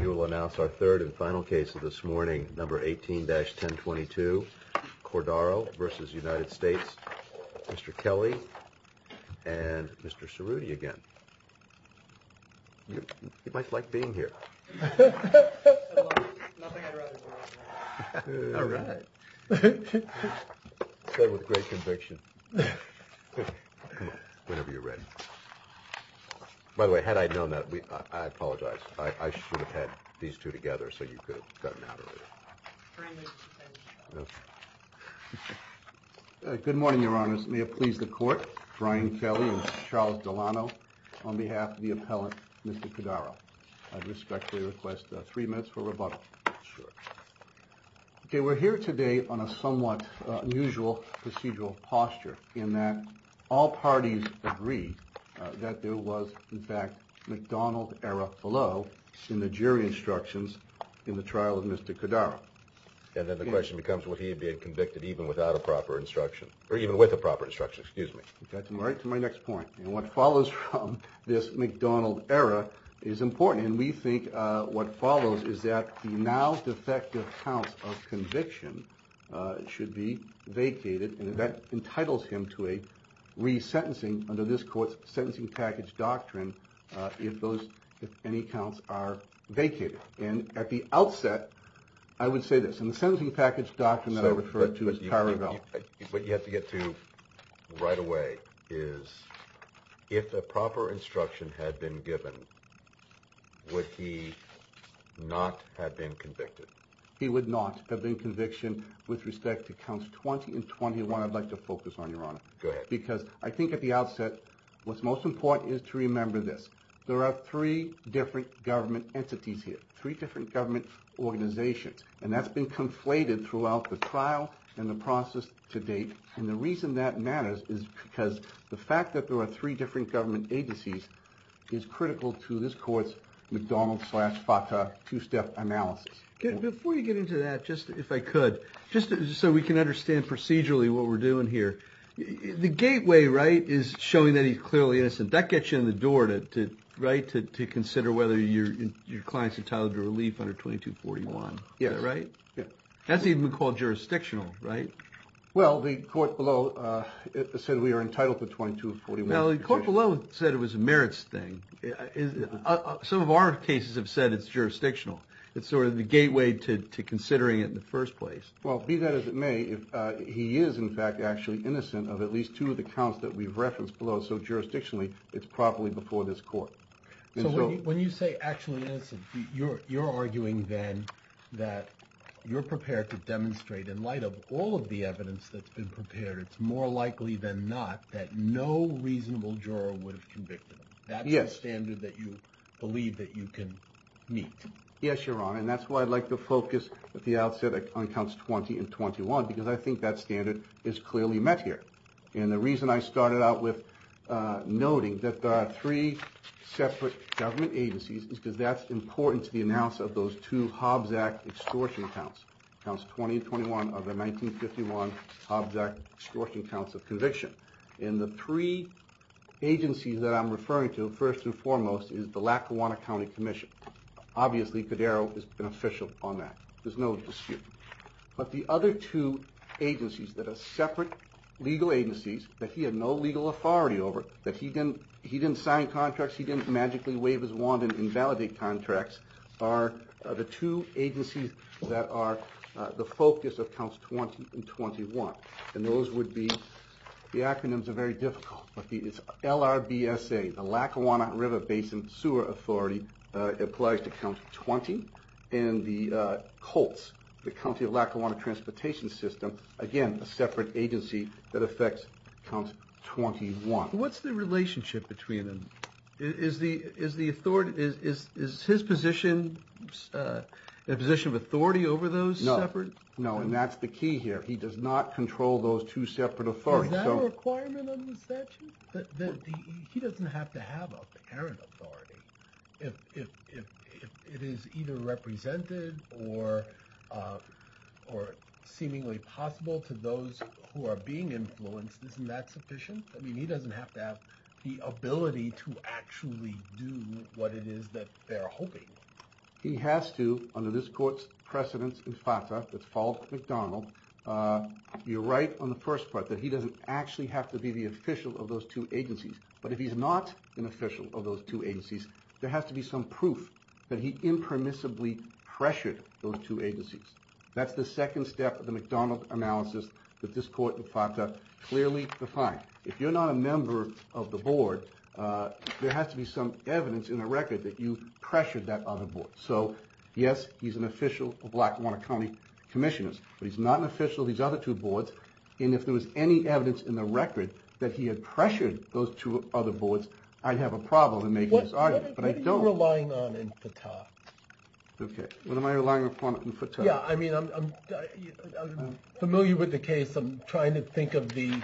You will announce our third and final case of this morning, number 18-1022, Cordaro v. United States, Mr. Kelly and Mr. Cerruti again. You might like being here. Nothing I'd rather do. All right. Whenever you're ready. By the way, had I known that, I apologize. I should have had these two together so you could have gotten out earlier. Good morning, Your Honor. May it please the court. Brian Kelly and Charles Delano on behalf of the appellant, Mr. Cordaro. I respectfully request three minutes for rebuttal. Sure. Okay, we're here today on a somewhat unusual procedural posture in that all parties agree that there was, in fact, McDonald-era fallot in the jury instructions in the trial of Mr. Cordaro. And then the question becomes would he have been convicted even without a proper instruction, or even with a proper instruction, excuse me. Right to my next point. And what follows from this McDonald-era is important. And we think what follows is that the now defective counts of conviction should be vacated. And that entitles him to a resentencing under this court's sentencing package doctrine if those, if any, counts are vacated. And at the outset, I would say this. In the sentencing package doctrine that I referred to as power of law. What you have to get to right away is if a proper instruction had been given, would he not have been convicted? He would not have been convicted with respect to counts 20 and 21 I'd like to focus on, Your Honor. Go ahead. Because I think at the outset what's most important is to remember this. There are three different government entities here, three different government organizations. And that's been conflated throughout the trial and the process to date. And the reason that matters is because the fact that there are three different government agencies is critical to this court's McDonald-slash-Farqa two-step analysis. Before you get into that, just if I could, just so we can understand procedurally what we're doing here. The gateway, right, is showing that he's clearly innocent. That gets you in the door, right, to consider whether your client's entitled to relief under 2241. Is that right? Yes. That's even called jurisdictional, right? Well, the court below said we are entitled to 2241. No, the court below said it was a merits thing. Some of our cases have said it's jurisdictional. It's sort of the gateway to considering it in the first place. Well, be that as it may, he is, in fact, actually innocent of at least two of the counts that we've referenced below. So jurisdictionally, it's properly before this court. So when you say actually innocent, you're arguing then that you're prepared to demonstrate in light of all of the evidence that's been prepared, it's more likely than not that no reasonable juror would have convicted him. Yes. That's the standard that you believe that you can meet. Yes, Your Honor, and that's why I'd like to focus at the outset on counts 20 and 21 because I think that standard is clearly met here. And the reason I started out with noting that there are three separate government agencies is because that's important to the announcement of those two Hobbs Act extortion counts, counts 20 and 21 of the 1951 Hobbs Act extortion counts of conviction. And the three agencies that I'm referring to, first and foremost, is the Lackawanna County Commission. Obviously, Cadero is beneficial on that. There's no dispute. But the other two agencies that are separate legal agencies that he had no legal authority over, that he didn't sign contracts, he didn't magically wave his wand and invalidate contracts, are the two agencies that are the focus of counts 20 and 21. And those would be, the acronyms are very difficult, but it's LRBSA, the Lackawanna River Basin Sewer Authority applies to counts 20, and the COLTS, the County of Lackawanna Transportation System, again, a separate agency that affects counts 21. What's the relationship between them? Is the authority, is his position in a position of authority over those separate? No, no, and that's the key here. He does not control those two separate authorities. Is that a requirement on the statute? He doesn't have to have apparent authority. If it is either represented or seemingly possible to those who are being influenced, isn't that sufficient? I mean, he doesn't have to have the ability to actually do what it is that they're hoping. He has to, under this court's precedence in FATA that's followed by McDonald, you're right on the first part that he doesn't actually have to be the official of those two agencies. But if he's not an official of those two agencies, there has to be some proof that he impermissibly pressured those two agencies. That's the second step of the McDonald analysis that this court in FATA clearly defined. If you're not a member of the board, there has to be some evidence in the record that you pressured that other board. So yes, he's an official of Lackawanna County Commissioners, but he's not an official of these other two boards. And if there was any evidence in the record that he had pressured those two other boards, I'd have a problem in making this argument. But I don't. What are you relying on in FATA? Okay, what am I relying upon in FATA? Yeah, I mean, I'm familiar with the case. I'm trying to think of the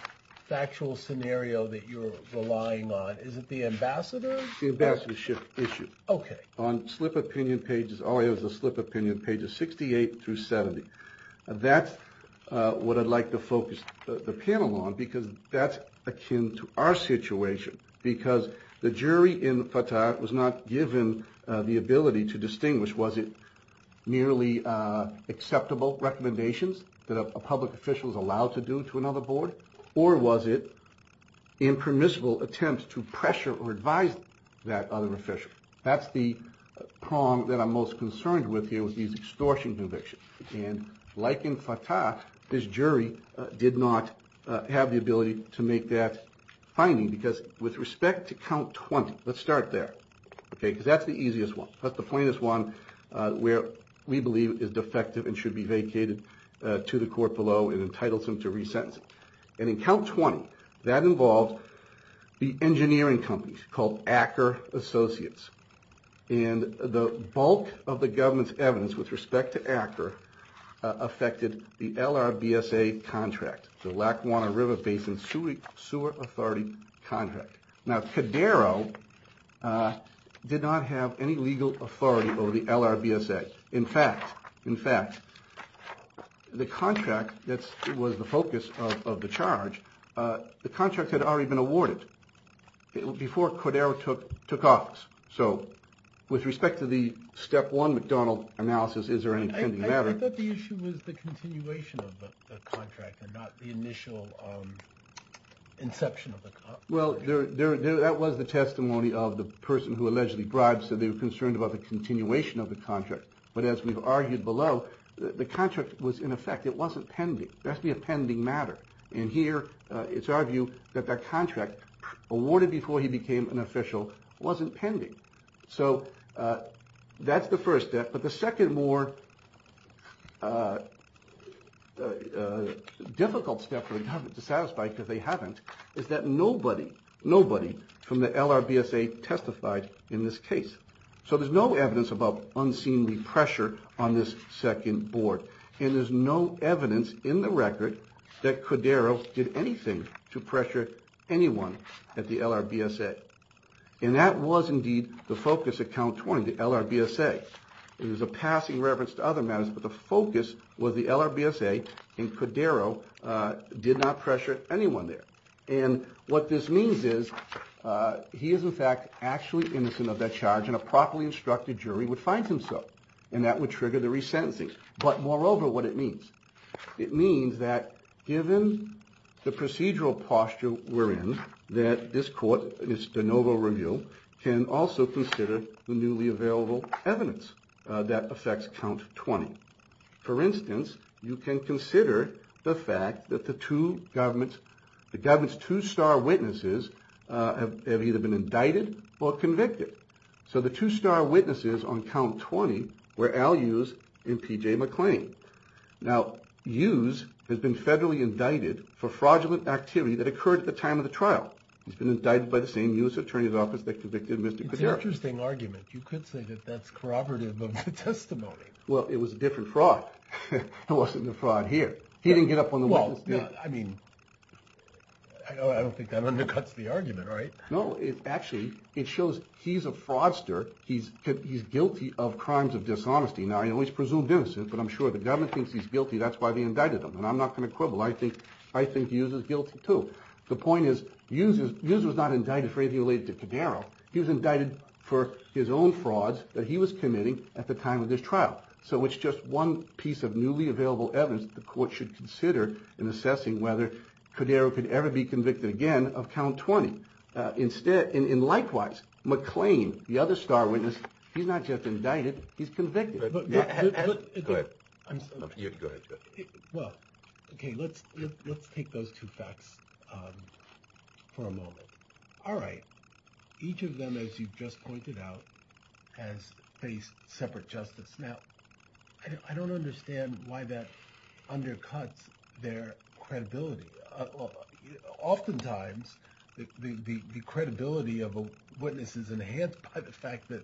factual scenario that you're relying on. Is it the ambassador? The ambassadorship issue. Okay. Oh, it was the slip opinion pages 68 through 70. That's what I'd like to focus the panel on, because that's akin to our situation, because the jury in FATA was not given the ability to distinguish, was it merely acceptable recommendations that a public official is allowed to do to another board, or was it impermissible attempts to pressure or advise that other official? That's the prong that I'm most concerned with here with these extortion convictions. And like in FATA, this jury did not have the ability to make that finding, because with respect to count 20, let's start there, okay, because that's the easiest one. That's the plainest one where we believe is defective and should be vacated to the court below and entitles him to re-sentence. And in count 20, that involved the engineering companies called Acker Associates. And the bulk of the government's evidence with respect to Acker affected the LRBSA contract, the Lackawanna River Basin Sewer Authority contract. Now, Cadero did not have any legal authority over the LRBSA. In fact, in fact, the contract that was the focus of the charge, the contract had already been awarded before Cadero took office. So with respect to the step one McDonald analysis, is there any pending matter? I thought the issue was the continuation of the contract and not the initial inception of the contract. Well, that was the testimony of the person who allegedly bribed, so they were concerned about the continuation of the contract. But as we've argued below, the contract was in effect, it wasn't pending. There has to be a pending matter. And here it's our view that the contract awarded before he became an official wasn't pending. So that's the first step. But the second more difficult step for the government to satisfy, because they haven't, is that nobody, nobody from the LRBSA testified in this case. So there's no evidence about unseemly pressure on this second board. And there's no evidence in the record that Cadero did anything to pressure anyone at the LRBSA. And that was indeed the focus at Count 20, the LRBSA. It was a passing reverence to other matters, but the focus was the LRBSA, and Cadero did not pressure anyone there. And what this means is he is, in fact, actually innocent of that charge, and a properly instructed jury would find him so, and that would trigger the resentencing. But moreover, what it means, it means that given the procedural posture we're in, that this court, in its de novo review, can also consider the newly available evidence that affects Count 20. For instance, you can consider the fact that the two governments, the government's two star witnesses, have either been indicted or convicted. So the two star witnesses on Count 20 were Al Hughes and P.J. McClain. Now, Hughes has been federally indicted for fraudulent activity that occurred at the time of the trial. He's been indicted by the same U.S. Attorney's Office that convicted Mr. Cadero. It's an interesting argument. You could say that that's corroborative of the testimony. Well, it was a different fraud. It wasn't the fraud here. He didn't get up on the witness stand. Well, I mean, I don't think that undercuts the argument, right? No, it actually, it shows he's a fraudster. He's guilty of crimes of dishonesty. Now, he's presumed innocent, but I'm sure if the government thinks he's guilty, that's why they indicted him. And I'm not going to quibble. I think Hughes is guilty, too. The point is Hughes was not indicted for anything related to Cadero. He was indicted for his own frauds that he was committing at the time of this trial. So it's just one piece of newly available evidence that the court should consider in assessing whether Cadero could ever be convicted again of Count 20. And likewise, McClain, the other star witness, he's not just indicted, he's convicted. Go ahead. Well, okay, let's take those two facts for a moment. All right. Each of them, as you just pointed out, has faced separate justice. Now, I don't understand why that undercuts their credibility. Oftentimes, the credibility of a witness is enhanced by the fact that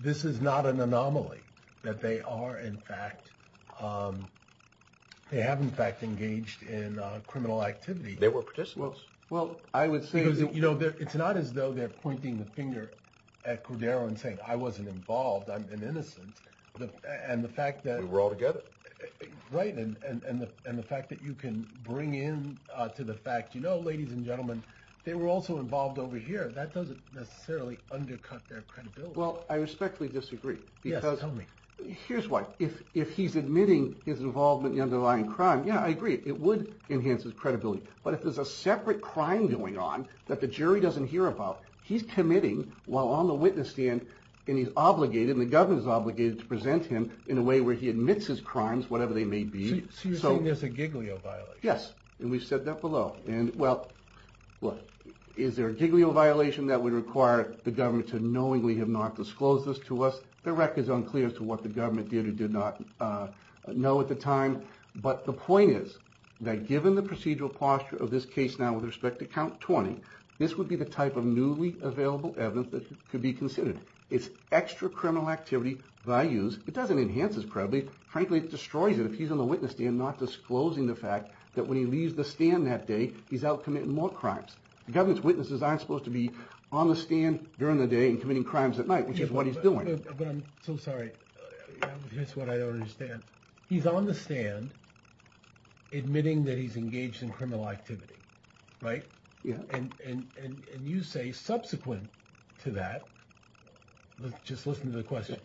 this is not an anomaly, that they have, in fact, engaged in criminal activity. They were participants. It's not as though they're pointing the finger at Cadero and saying, I wasn't involved, I'm innocent. We were all together. Right, and the fact that you can bring in to the fact, you know, ladies and gentlemen, they were also involved over here. That doesn't necessarily undercut their credibility. Well, I respectfully disagree. Yes, tell me. Here's why. If he's admitting his involvement in the underlying crime, yeah, I agree, it would enhance his credibility. But if there's a separate crime going on that the jury doesn't hear about, he's committing while on the witness stand, and he's obligated, and the government is obligated to present him in a way where he admits his crimes, whatever they may be. So you're saying there's a Giglio violation? Yes, and we've said that below. And, well, look, is there a Giglio violation that would require the government to knowingly have not disclosed this to us? The record's unclear as to what the government did or did not know at the time. But the point is that given the procedural posture of this case now with respect to Count 20, this would be the type of newly available evidence that could be considered. It's extra criminal activity values. It doesn't enhance his credibility. Frankly, it destroys it if he's on the witness stand not disclosing the fact that when he leaves the stand that day, he's out committing more crimes. The government's witnesses aren't supposed to be on the stand during the day and committing crimes at night, which is what he's doing. But I'm so sorry. That's what I don't understand. He's on the stand admitting that he's engaged in criminal activity, right? Yeah. And you say subsequent to that, just listen to the question.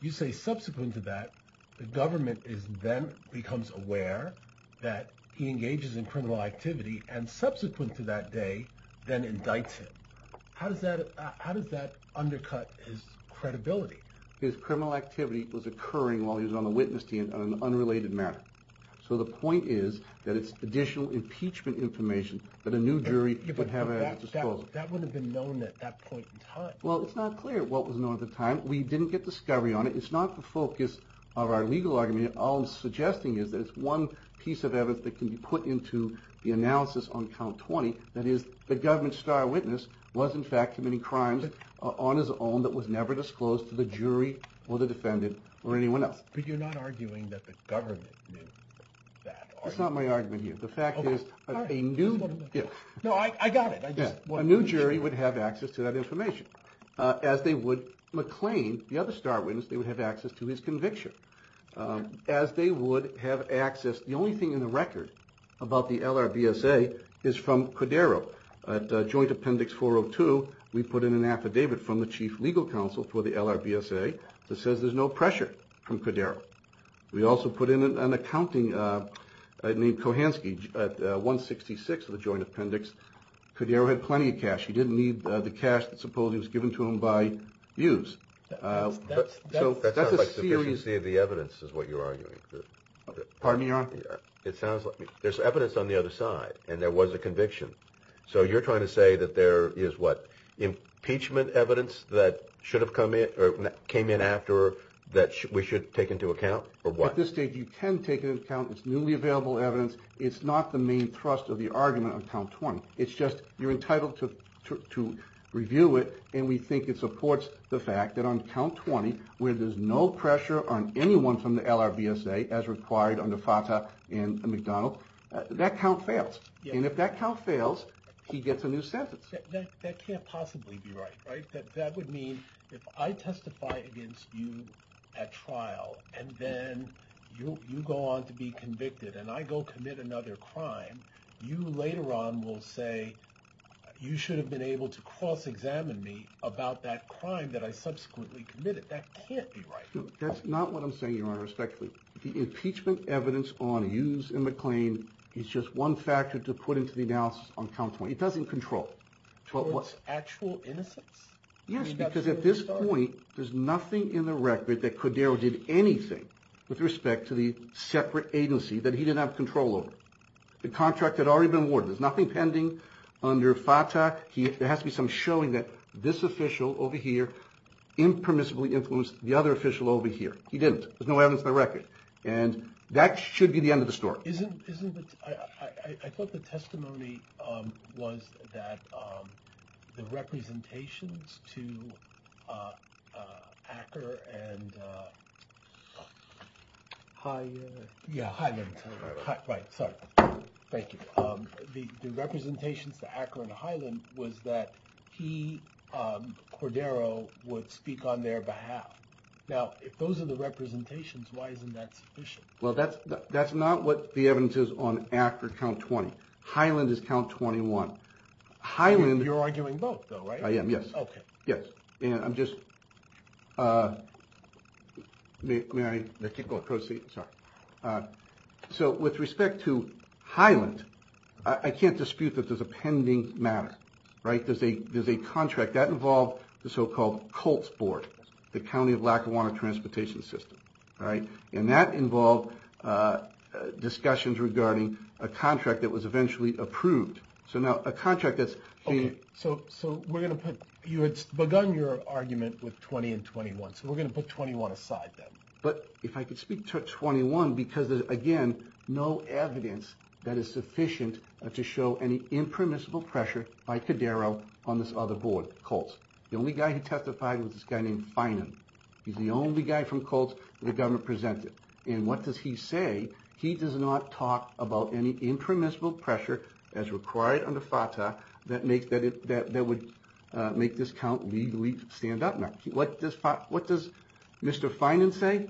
You say subsequent to that, the government then becomes aware that he engages in criminal activity and subsequent to that day then indicts him. How does that undercut his credibility? His criminal activity was occurring while he was on the witness stand on an unrelated matter. So the point is that it's additional impeachment information that a new jury would have to disclose. That would have been known at that point in time. Well, it's not clear what was known at the time. We didn't get discovery on it. It's not the focus of our legal argument. All I'm suggesting is that it's one piece of evidence that can be put into the analysis on Count 20, that is the government's star witness was in fact committing crimes on his own that was never disclosed to the jury or the defendant or anyone else. But you're not arguing that the government knew that. That's not my argument here. The fact is a new jury would have access to that information. As they would McLean, the other star witness, they would have access to his conviction. As they would have access, the only thing in the record about the LRBSA is from Cordero. At joint appendix 402 we put in an affidavit from the chief legal counsel for the LRBSA that says there's no pressure from Cordero. We also put in an accounting named Kohansky at 166 of the joint appendix. Cordero had plenty of cash. He didn't need the cash that supposedly was given to him by Hughes. So that's a series of the evidence is what you're arguing. Pardon me, Your Honor? It sounds like there's evidence on the other side, and there was a conviction. So you're trying to say that there is what, impeachment evidence that should have come in or came in after that we should take into account, or what? At this stage, you can take it into account. It's newly available evidence. It's not the main thrust of the argument on count 20. It's just you're entitled to review it, and we think it supports the fact that on count 20, where there's no pressure on anyone from the LRBSA, as required under FATA and McDonald, that count fails. And if that count fails, he gets a new sentence. That can't possibly be right, right? That would mean if I testify against you at trial, and then you go on to be convicted, and I go commit another crime, you later on will say you should have been able to cross-examine me about that crime that I subsequently committed. That can't be right. That's not what I'm saying, Your Honor, respectfully. The impeachment evidence on Hughes and McClain is just one factor to put into the analysis on count 20. It doesn't control. So it's actual innocence? Yes, because at this point, there's nothing in the record that Cordero did anything with respect to the separate agency that he didn't have control over. The contract had already been awarded. There's nothing pending under FATA. There has to be some showing that this official over here impermissibly influenced the other official over here. He didn't. There's no evidence in the record. And that should be the end of the story. Isn't it? I thought the testimony was that the representations to Acker and Highland. Right, sorry. Thank you. The representations to Acker and Highland was that he, Cordero, would speak on their behalf. Now, if those are the representations, why isn't that sufficient? Well, that's not what the evidence is on Acker count 20. Highland is count 21. You're arguing both, though, right? I am, yes. Okay. Yes. And I'm just... May I proceed? Sorry. So with respect to Highland, I can't dispute that there's a pending matter, right? There's a contract. That involved the so-called Colts Board, the County of Lackawanna Transportation System, right? And that involved discussions regarding a contract that was eventually approved. So now, a contract that's... Okay. So we're going to put... You had begun your argument with 20 and 21, so we're going to put 21 aside then. But if I could speak to 21, because there's, again, no evidence that is sufficient to show any impermissible pressure by Cordero on this other board. Colts. The only guy who testified was this guy named Finan. He's the only guy from Colts that the government presented. And what does he say? He does not talk about any impermissible pressure as required under FATA that would make this count legally stand up. Now, what does Mr. Finan say?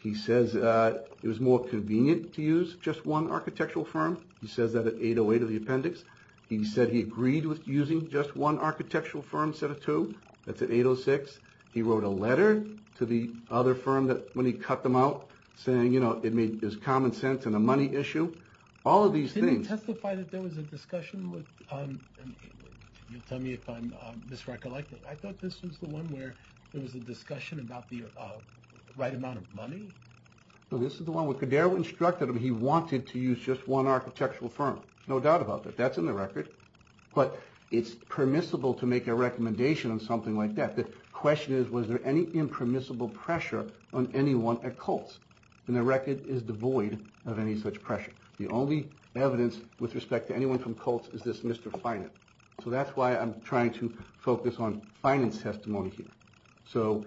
He says it was more convenient to use just one architectural firm. He says that at 808 of the appendix. He said he agreed with using just one architectural firm instead of two. That's at 806. He wrote a letter to the other firm when he cut them out saying, you know, it was common sense and a money issue. All of these things... Didn't he testify that there was a discussion with... You'll tell me if I'm misrecognizing. I thought this was the one where there was a discussion about the right amount of money. No, this is the one where Cordero instructed him he wanted to use just one architectural firm. No doubt about that. That's in the record. But it's permissible to make a recommendation on something like that. The question is, was there any impermissible pressure on anyone at Colts? And the record is devoid of any such pressure. The only evidence with respect to anyone from Colts is this Mr. Finan. So that's why I'm trying to focus on Finan's testimony here.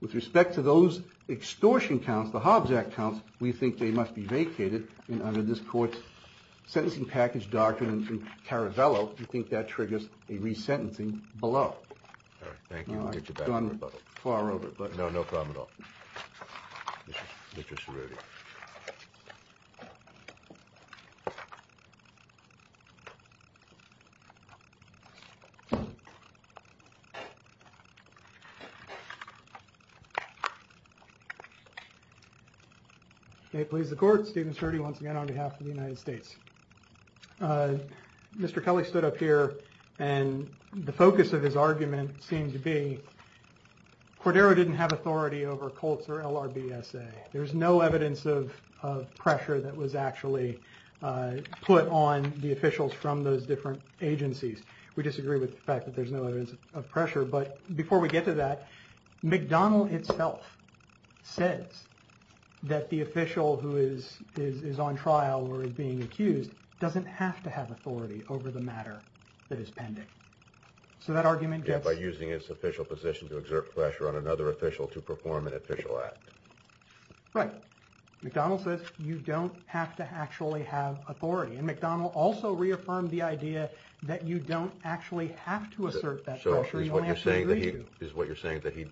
With respect to those extortion counts, the Hobbs Act counts, we think they must be vacated. And under this court's sentencing package document in Caravello, we think that triggers a resentencing below. Thank you. I've gone far over. No, no problem at all. Mr. Cerruti. May it please the court. Stephen Cerruti once again on behalf of the United States. Mr. Kelly stood up here and the focus of his argument seemed to be Cordero didn't have authority over Colts or LRBSA. There's no evidence of pressure that was actually put on the officials from those different agencies. We disagree with the fact that there's no evidence of pressure. But before we get to that, McDonnell itself says that the official who is on trial or is being accused doesn't have to have authority over the matter that is pending. So that argument gets. By using its official position to exert pressure on another official to perform an official act. Right. McDonnell says you don't have to actually have authority. And McDonnell also reaffirmed the idea that you don't actually have to assert that. So is what you're saying that he is what you're saying that he.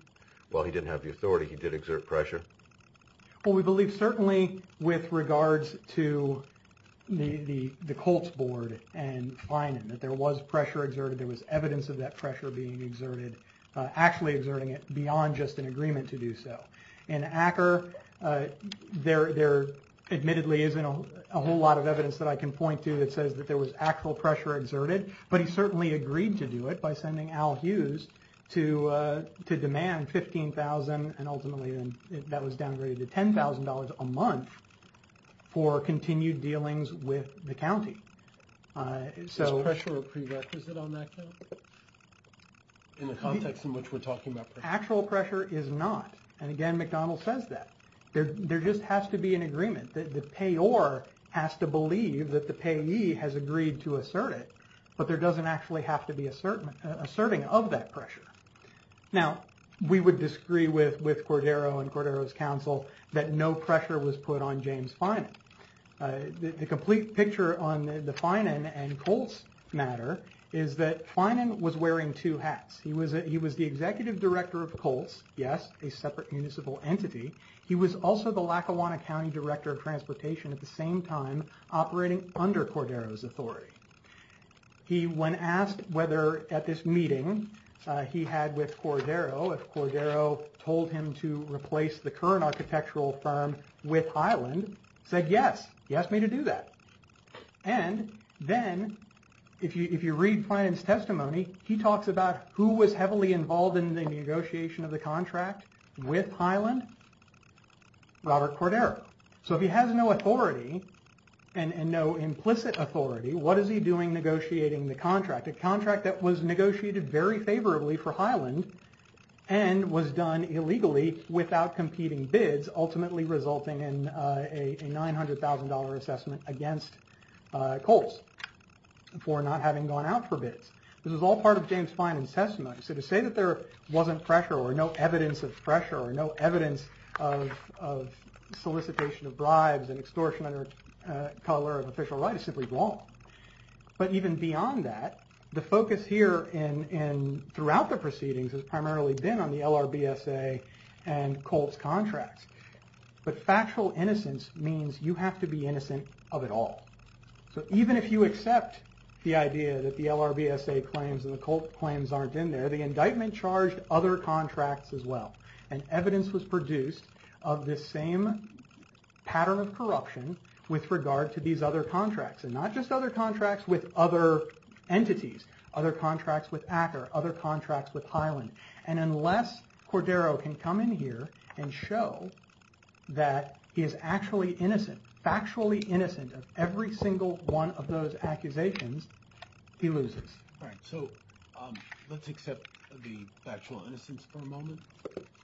Well, he didn't have the authority. He did exert pressure. Well, we believe certainly with regards to the Colts board and finding that there was pressure exerted. There was evidence of that pressure being exerted, actually exerting it beyond just an agreement to do so. And Acker there there admittedly isn't a whole lot of evidence that I can point to that says that there was actual pressure exerted. But he certainly agreed to do it by sending Al Hughes to to demand fifteen thousand. And ultimately that was downgraded to ten thousand dollars a month for continued dealings with the county. So pressure prerequisite on that. In the context in which we're talking about actual pressure is not. And again, McDonnell says that there just has to be an agreement that the payor has to believe that the payee has agreed to assert it. But there doesn't actually have to be a certain asserting of that pressure. Now, we would disagree with with Cordero and Cordero's counsel that no pressure was put on James Finan. The complete picture on the Finan and Colts matter is that Finan was wearing two hats. He was he was the executive director of Colts. Yes, a separate municipal entity. He was also the Lackawanna County director of transportation at the same time operating under Cordero's authority. He when asked whether at this meeting he had with Cordero, if Cordero told him to replace the current architectural firm with Highland, said yes. He asked me to do that. And then if you read Finan's testimony, he talks about who was heavily involved in the negotiation of the contract with Highland. Robert Cordero. So if he has no authority and no implicit authority, what is he doing negotiating the contract? A contract that was negotiated very favorably for Highland and was done illegally without competing bids, ultimately resulting in a $900,000 assessment against Colts for not having gone out for bids. This was all part of James Finan's testimony. So to say that there wasn't pressure or no evidence of pressure or no evidence of solicitation of bribes and extortion under color of official right is simply wrong. But even beyond that, the focus here throughout the proceedings has primarily been on the LRBSA and Colts contracts. But factual innocence means you have to be innocent of it all. So even if you accept the idea that the LRBSA claims and the Colts claims aren't in there, the indictment charged other contracts as well. And evidence was produced of this same pattern of corruption with regard to these other contracts. And not just other contracts with other entities, other contracts with Acker, other contracts with Highland. And unless Cordero can come in here and show that he is actually innocent, factually innocent of every single one of those accusations, he loses. All right, so let's accept the factual innocence for a moment.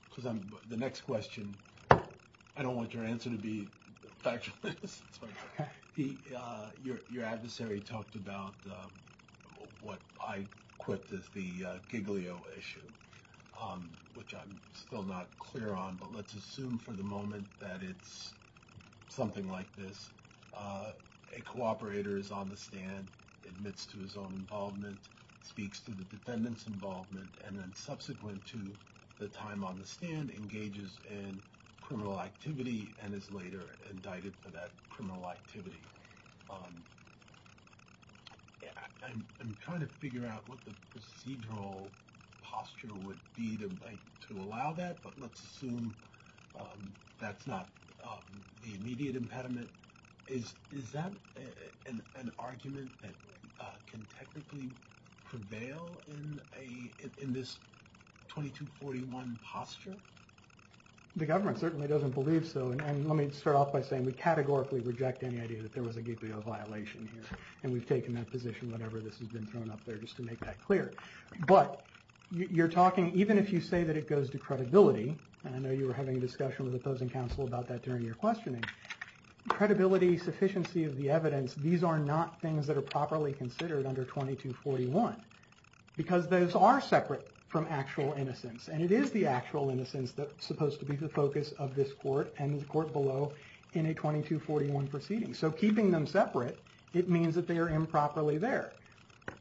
Because the next question, I don't want your answer to be factual innocence. Your adversary talked about what I equipped as the Giglio issue, which I'm still not clear on. But let's assume for the moment that it's something like this. A cooperator is on the stand, admits to his own involvement, speaks to the defendant's involvement. And then subsequent to the time on the stand, engages in criminal activity and is later indicted for that criminal activity. I'm trying to figure out what the procedural posture would be to allow that. But let's assume that's not the immediate impediment. Is that an argument that can technically prevail in this 2241 posture? The government certainly doesn't believe so. And let me start off by saying we categorically reject any idea that there was a Giglio violation here. And we've taken that position whenever this has been thrown up there just to make that clear. But you're talking, even if you say that it goes to credibility, and I know you were having a discussion with opposing counsel about that during your questioning, credibility, sufficiency of the evidence, these are not things that are properly considered under 2241. Because those are separate from actual innocence. And it is the actual innocence that's supposed to be the focus of this court and the court below in a 2241 proceeding. So keeping them separate, it means that they are improperly there.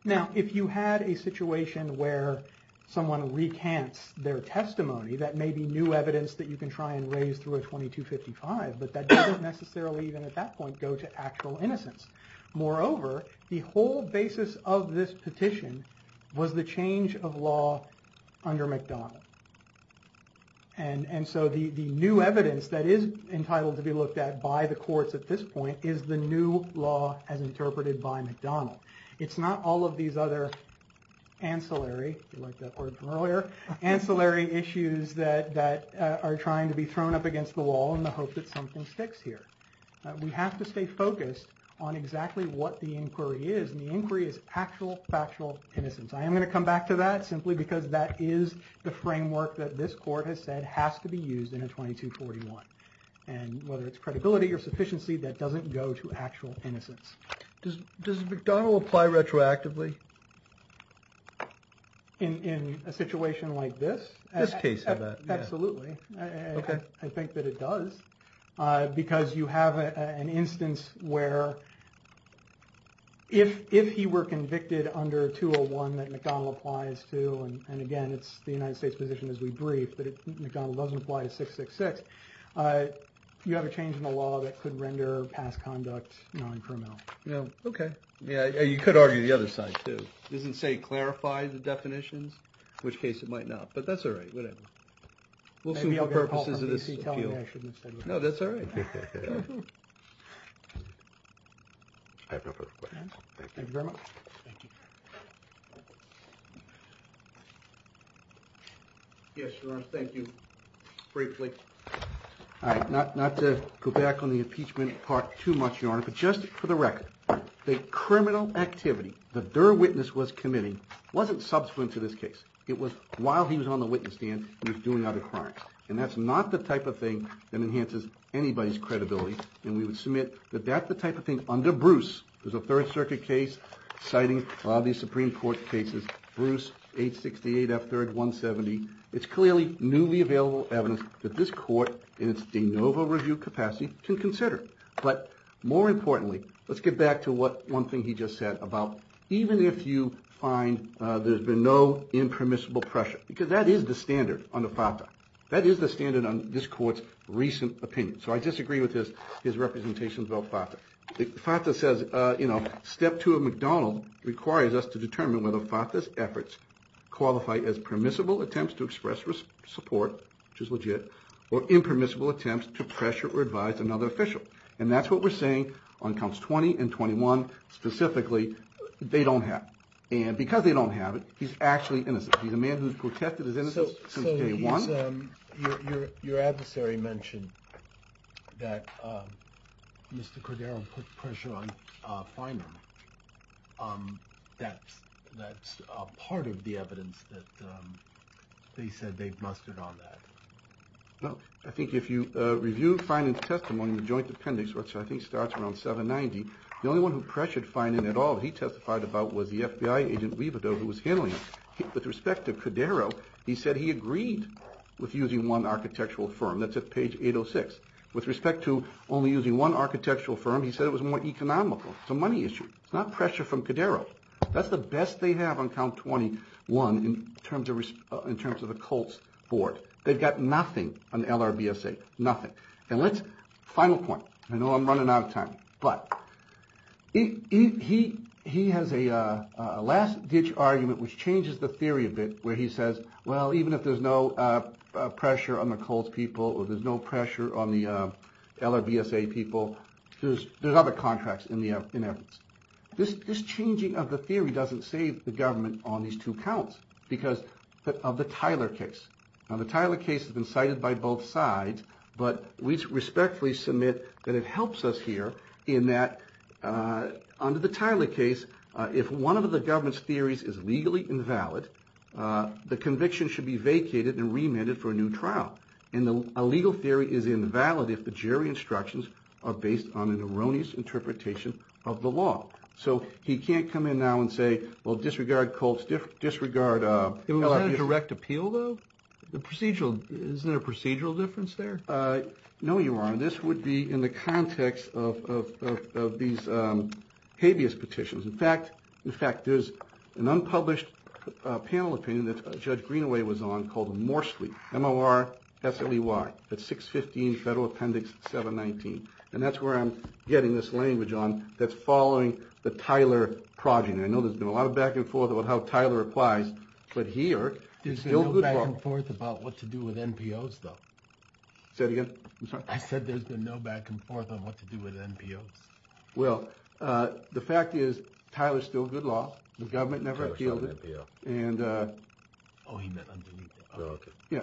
Now, if you had a situation where someone recants their testimony, that may be new evidence that you can try and raise through a 2255, but that doesn't necessarily, even at that point, go to actual innocence. Moreover, the whole basis of this petition was the change of law under McDonnell. And so the new evidence that is entitled to be looked at by the courts at this point is the new law as interpreted by McDonnell. It's not all of these other ancillary, if you like that word from earlier, ancillary issues that are trying to be thrown up against the wall in the hope that something sticks here. We have to stay focused on exactly what the inquiry is. And the inquiry is actual, factual innocence. I am going to come back to that simply because that is the framework that this court has said has to be used in a 2241. And whether it's credibility or sufficiency, that doesn't go to actual innocence. Does McDonnell apply retroactively? In a situation like this? This case, I bet. Absolutely. Okay. I think that it does because you have an instance where if he were convicted under 201 that McDonnell applies to, and again it's the United States position as we brief that McDonnell doesn't apply to 666, you have a change in the law that could render past conduct non-criminal. Okay. You could argue the other side too. It doesn't say clarify the definitions, in which case it might not, but that's all right, whatever. Maybe I'll get a call from DC telling me I shouldn't have said that. No, that's all right. I have no further questions. Thank you very much. Thank you. Yes, Your Honor. Thank you. Briefly. All right. Not to go back on the impeachment part too much, Your Honor, but just for the record, the criminal activity that their witness was committing wasn't subsequent to this case. It was while he was on the witness stand and he was doing other crimes, and that's not the type of thing that enhances anybody's credibility, and we would submit that that's the type of thing under Bruce. There's a Third Circuit case citing a lot of these Supreme Court cases. Bruce, 868 F3rd 170. It's clearly newly available evidence that this court in its de novo review capacity can consider, but more importantly, let's get back to what one thing he just said about even if you find there's been no impermissible pressure, because that is the standard under FATA. That is the standard on this court's recent opinion. So I disagree with his representations about FATA. FATA says, you know, Step 2 of MacDonald requires us to determine whether FATA's efforts qualify as permissible attempts to express support, which is legit, or impermissible attempts to pressure or advise another official, and that's what we're saying on Counts 20 and 21. Specifically, they don't have it, and because they don't have it, he's actually innocent. He's a man who's protested his innocence since day one. So your adversary mentioned that Mr. Cordero put pressure on Finan. That's part of the evidence that they said they've mustered on that. No. I think if you review Finan's testimony in the joint appendix, which I think starts around 790, the only one who pressured Finan at all that he testified about was the FBI agent Rivado who was handling it. With respect to Cordero, he said he agreed with using one architectural firm. That's at page 806. With respect to only using one architectural firm, he said it was more economical. It's a money issue. It's not pressure from Cordero. That's the best they have on Count 21 in terms of the Colts' board. They've got nothing on the LRBSA, nothing. Final point. I know I'm running out of time, but he has a last-ditch argument which changes the theory a bit where he says, well, even if there's no pressure on the Colts' people or there's no pressure on the LRBSA people, there's other contracts in evidence. This changing of the theory doesn't save the government on these two counts because of the Tyler case. Now, the Tyler case has been cited by both sides, but we respectfully submit that it helps us here in that under the Tyler case, if one of the government's theories is legally invalid, the conviction should be vacated and remanded for a new trial. And a legal theory is invalid if the jury instructions are based on an erroneous interpretation of the law. So he can't come in now and say, well, disregard Colts, disregard LRBSA. Is that a direct appeal, though? Isn't there a procedural difference there? No, Your Honor. This would be in the context of these habeas petitions. In fact, there's an unpublished panel opinion that Judge Greenaway was on called Morsley, M-O-R-S-L-E-Y. That's 615 Federal Appendix 719. And that's where I'm getting this language on that's following the Tyler progeny. I know there's been a lot of back and forth about how Tyler applies, but here it's still good law. There's been no back and forth about what to do with NPOs, though. Say it again. I'm sorry? I said there's been no back and forth on what to do with NPOs. Well, the fact is Tyler's still good law. The government never appealed it. Tyler's still an NPO. Oh, he meant underneath it. Yeah,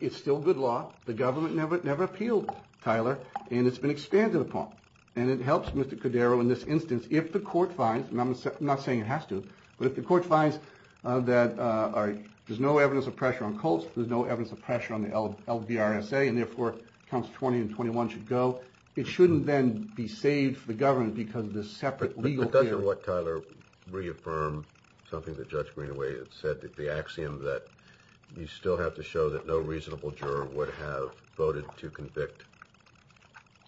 it's still good law. The government never appealed Tyler, and it's been expanded upon. And it helps Mr. Cordero in this instance if the court finds, and I'm not saying it has to, but if the court finds that there's no evidence of pressure on Colts, there's no evidence of pressure on the LBRSA, and therefore Council 20 and 21 should go, it shouldn't then be saved for the government because of this separate legal period. But doesn't what Tyler reaffirm something that Judge Greenaway had said, the axiom that you still have to show that no reasonable juror would have voted to convict?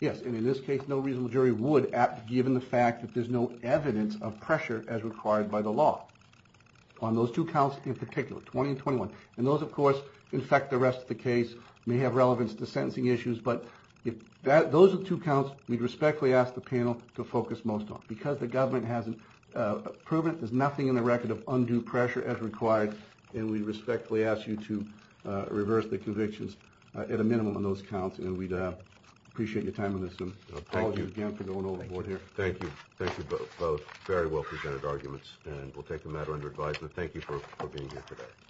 Yes, and in this case, no reasonable jury would, given the fact that there's no evidence of pressure as required by the law on those two counts in particular, 20 and 21. And those, of course, infect the rest of the case, may have relevance to sentencing issues, but those are the two counts we'd respectfully ask the panel to focus most on. Because the government hasn't proven there's nothing in the record of undue pressure as required, and we respectfully ask you to reverse the convictions at a minimum on those counts, and we'd appreciate your time on this, and apologies again for going overboard here. Thank you. Thank you both. Very well-presented arguments, and we'll take the matter under advisement. Thank you for being here today.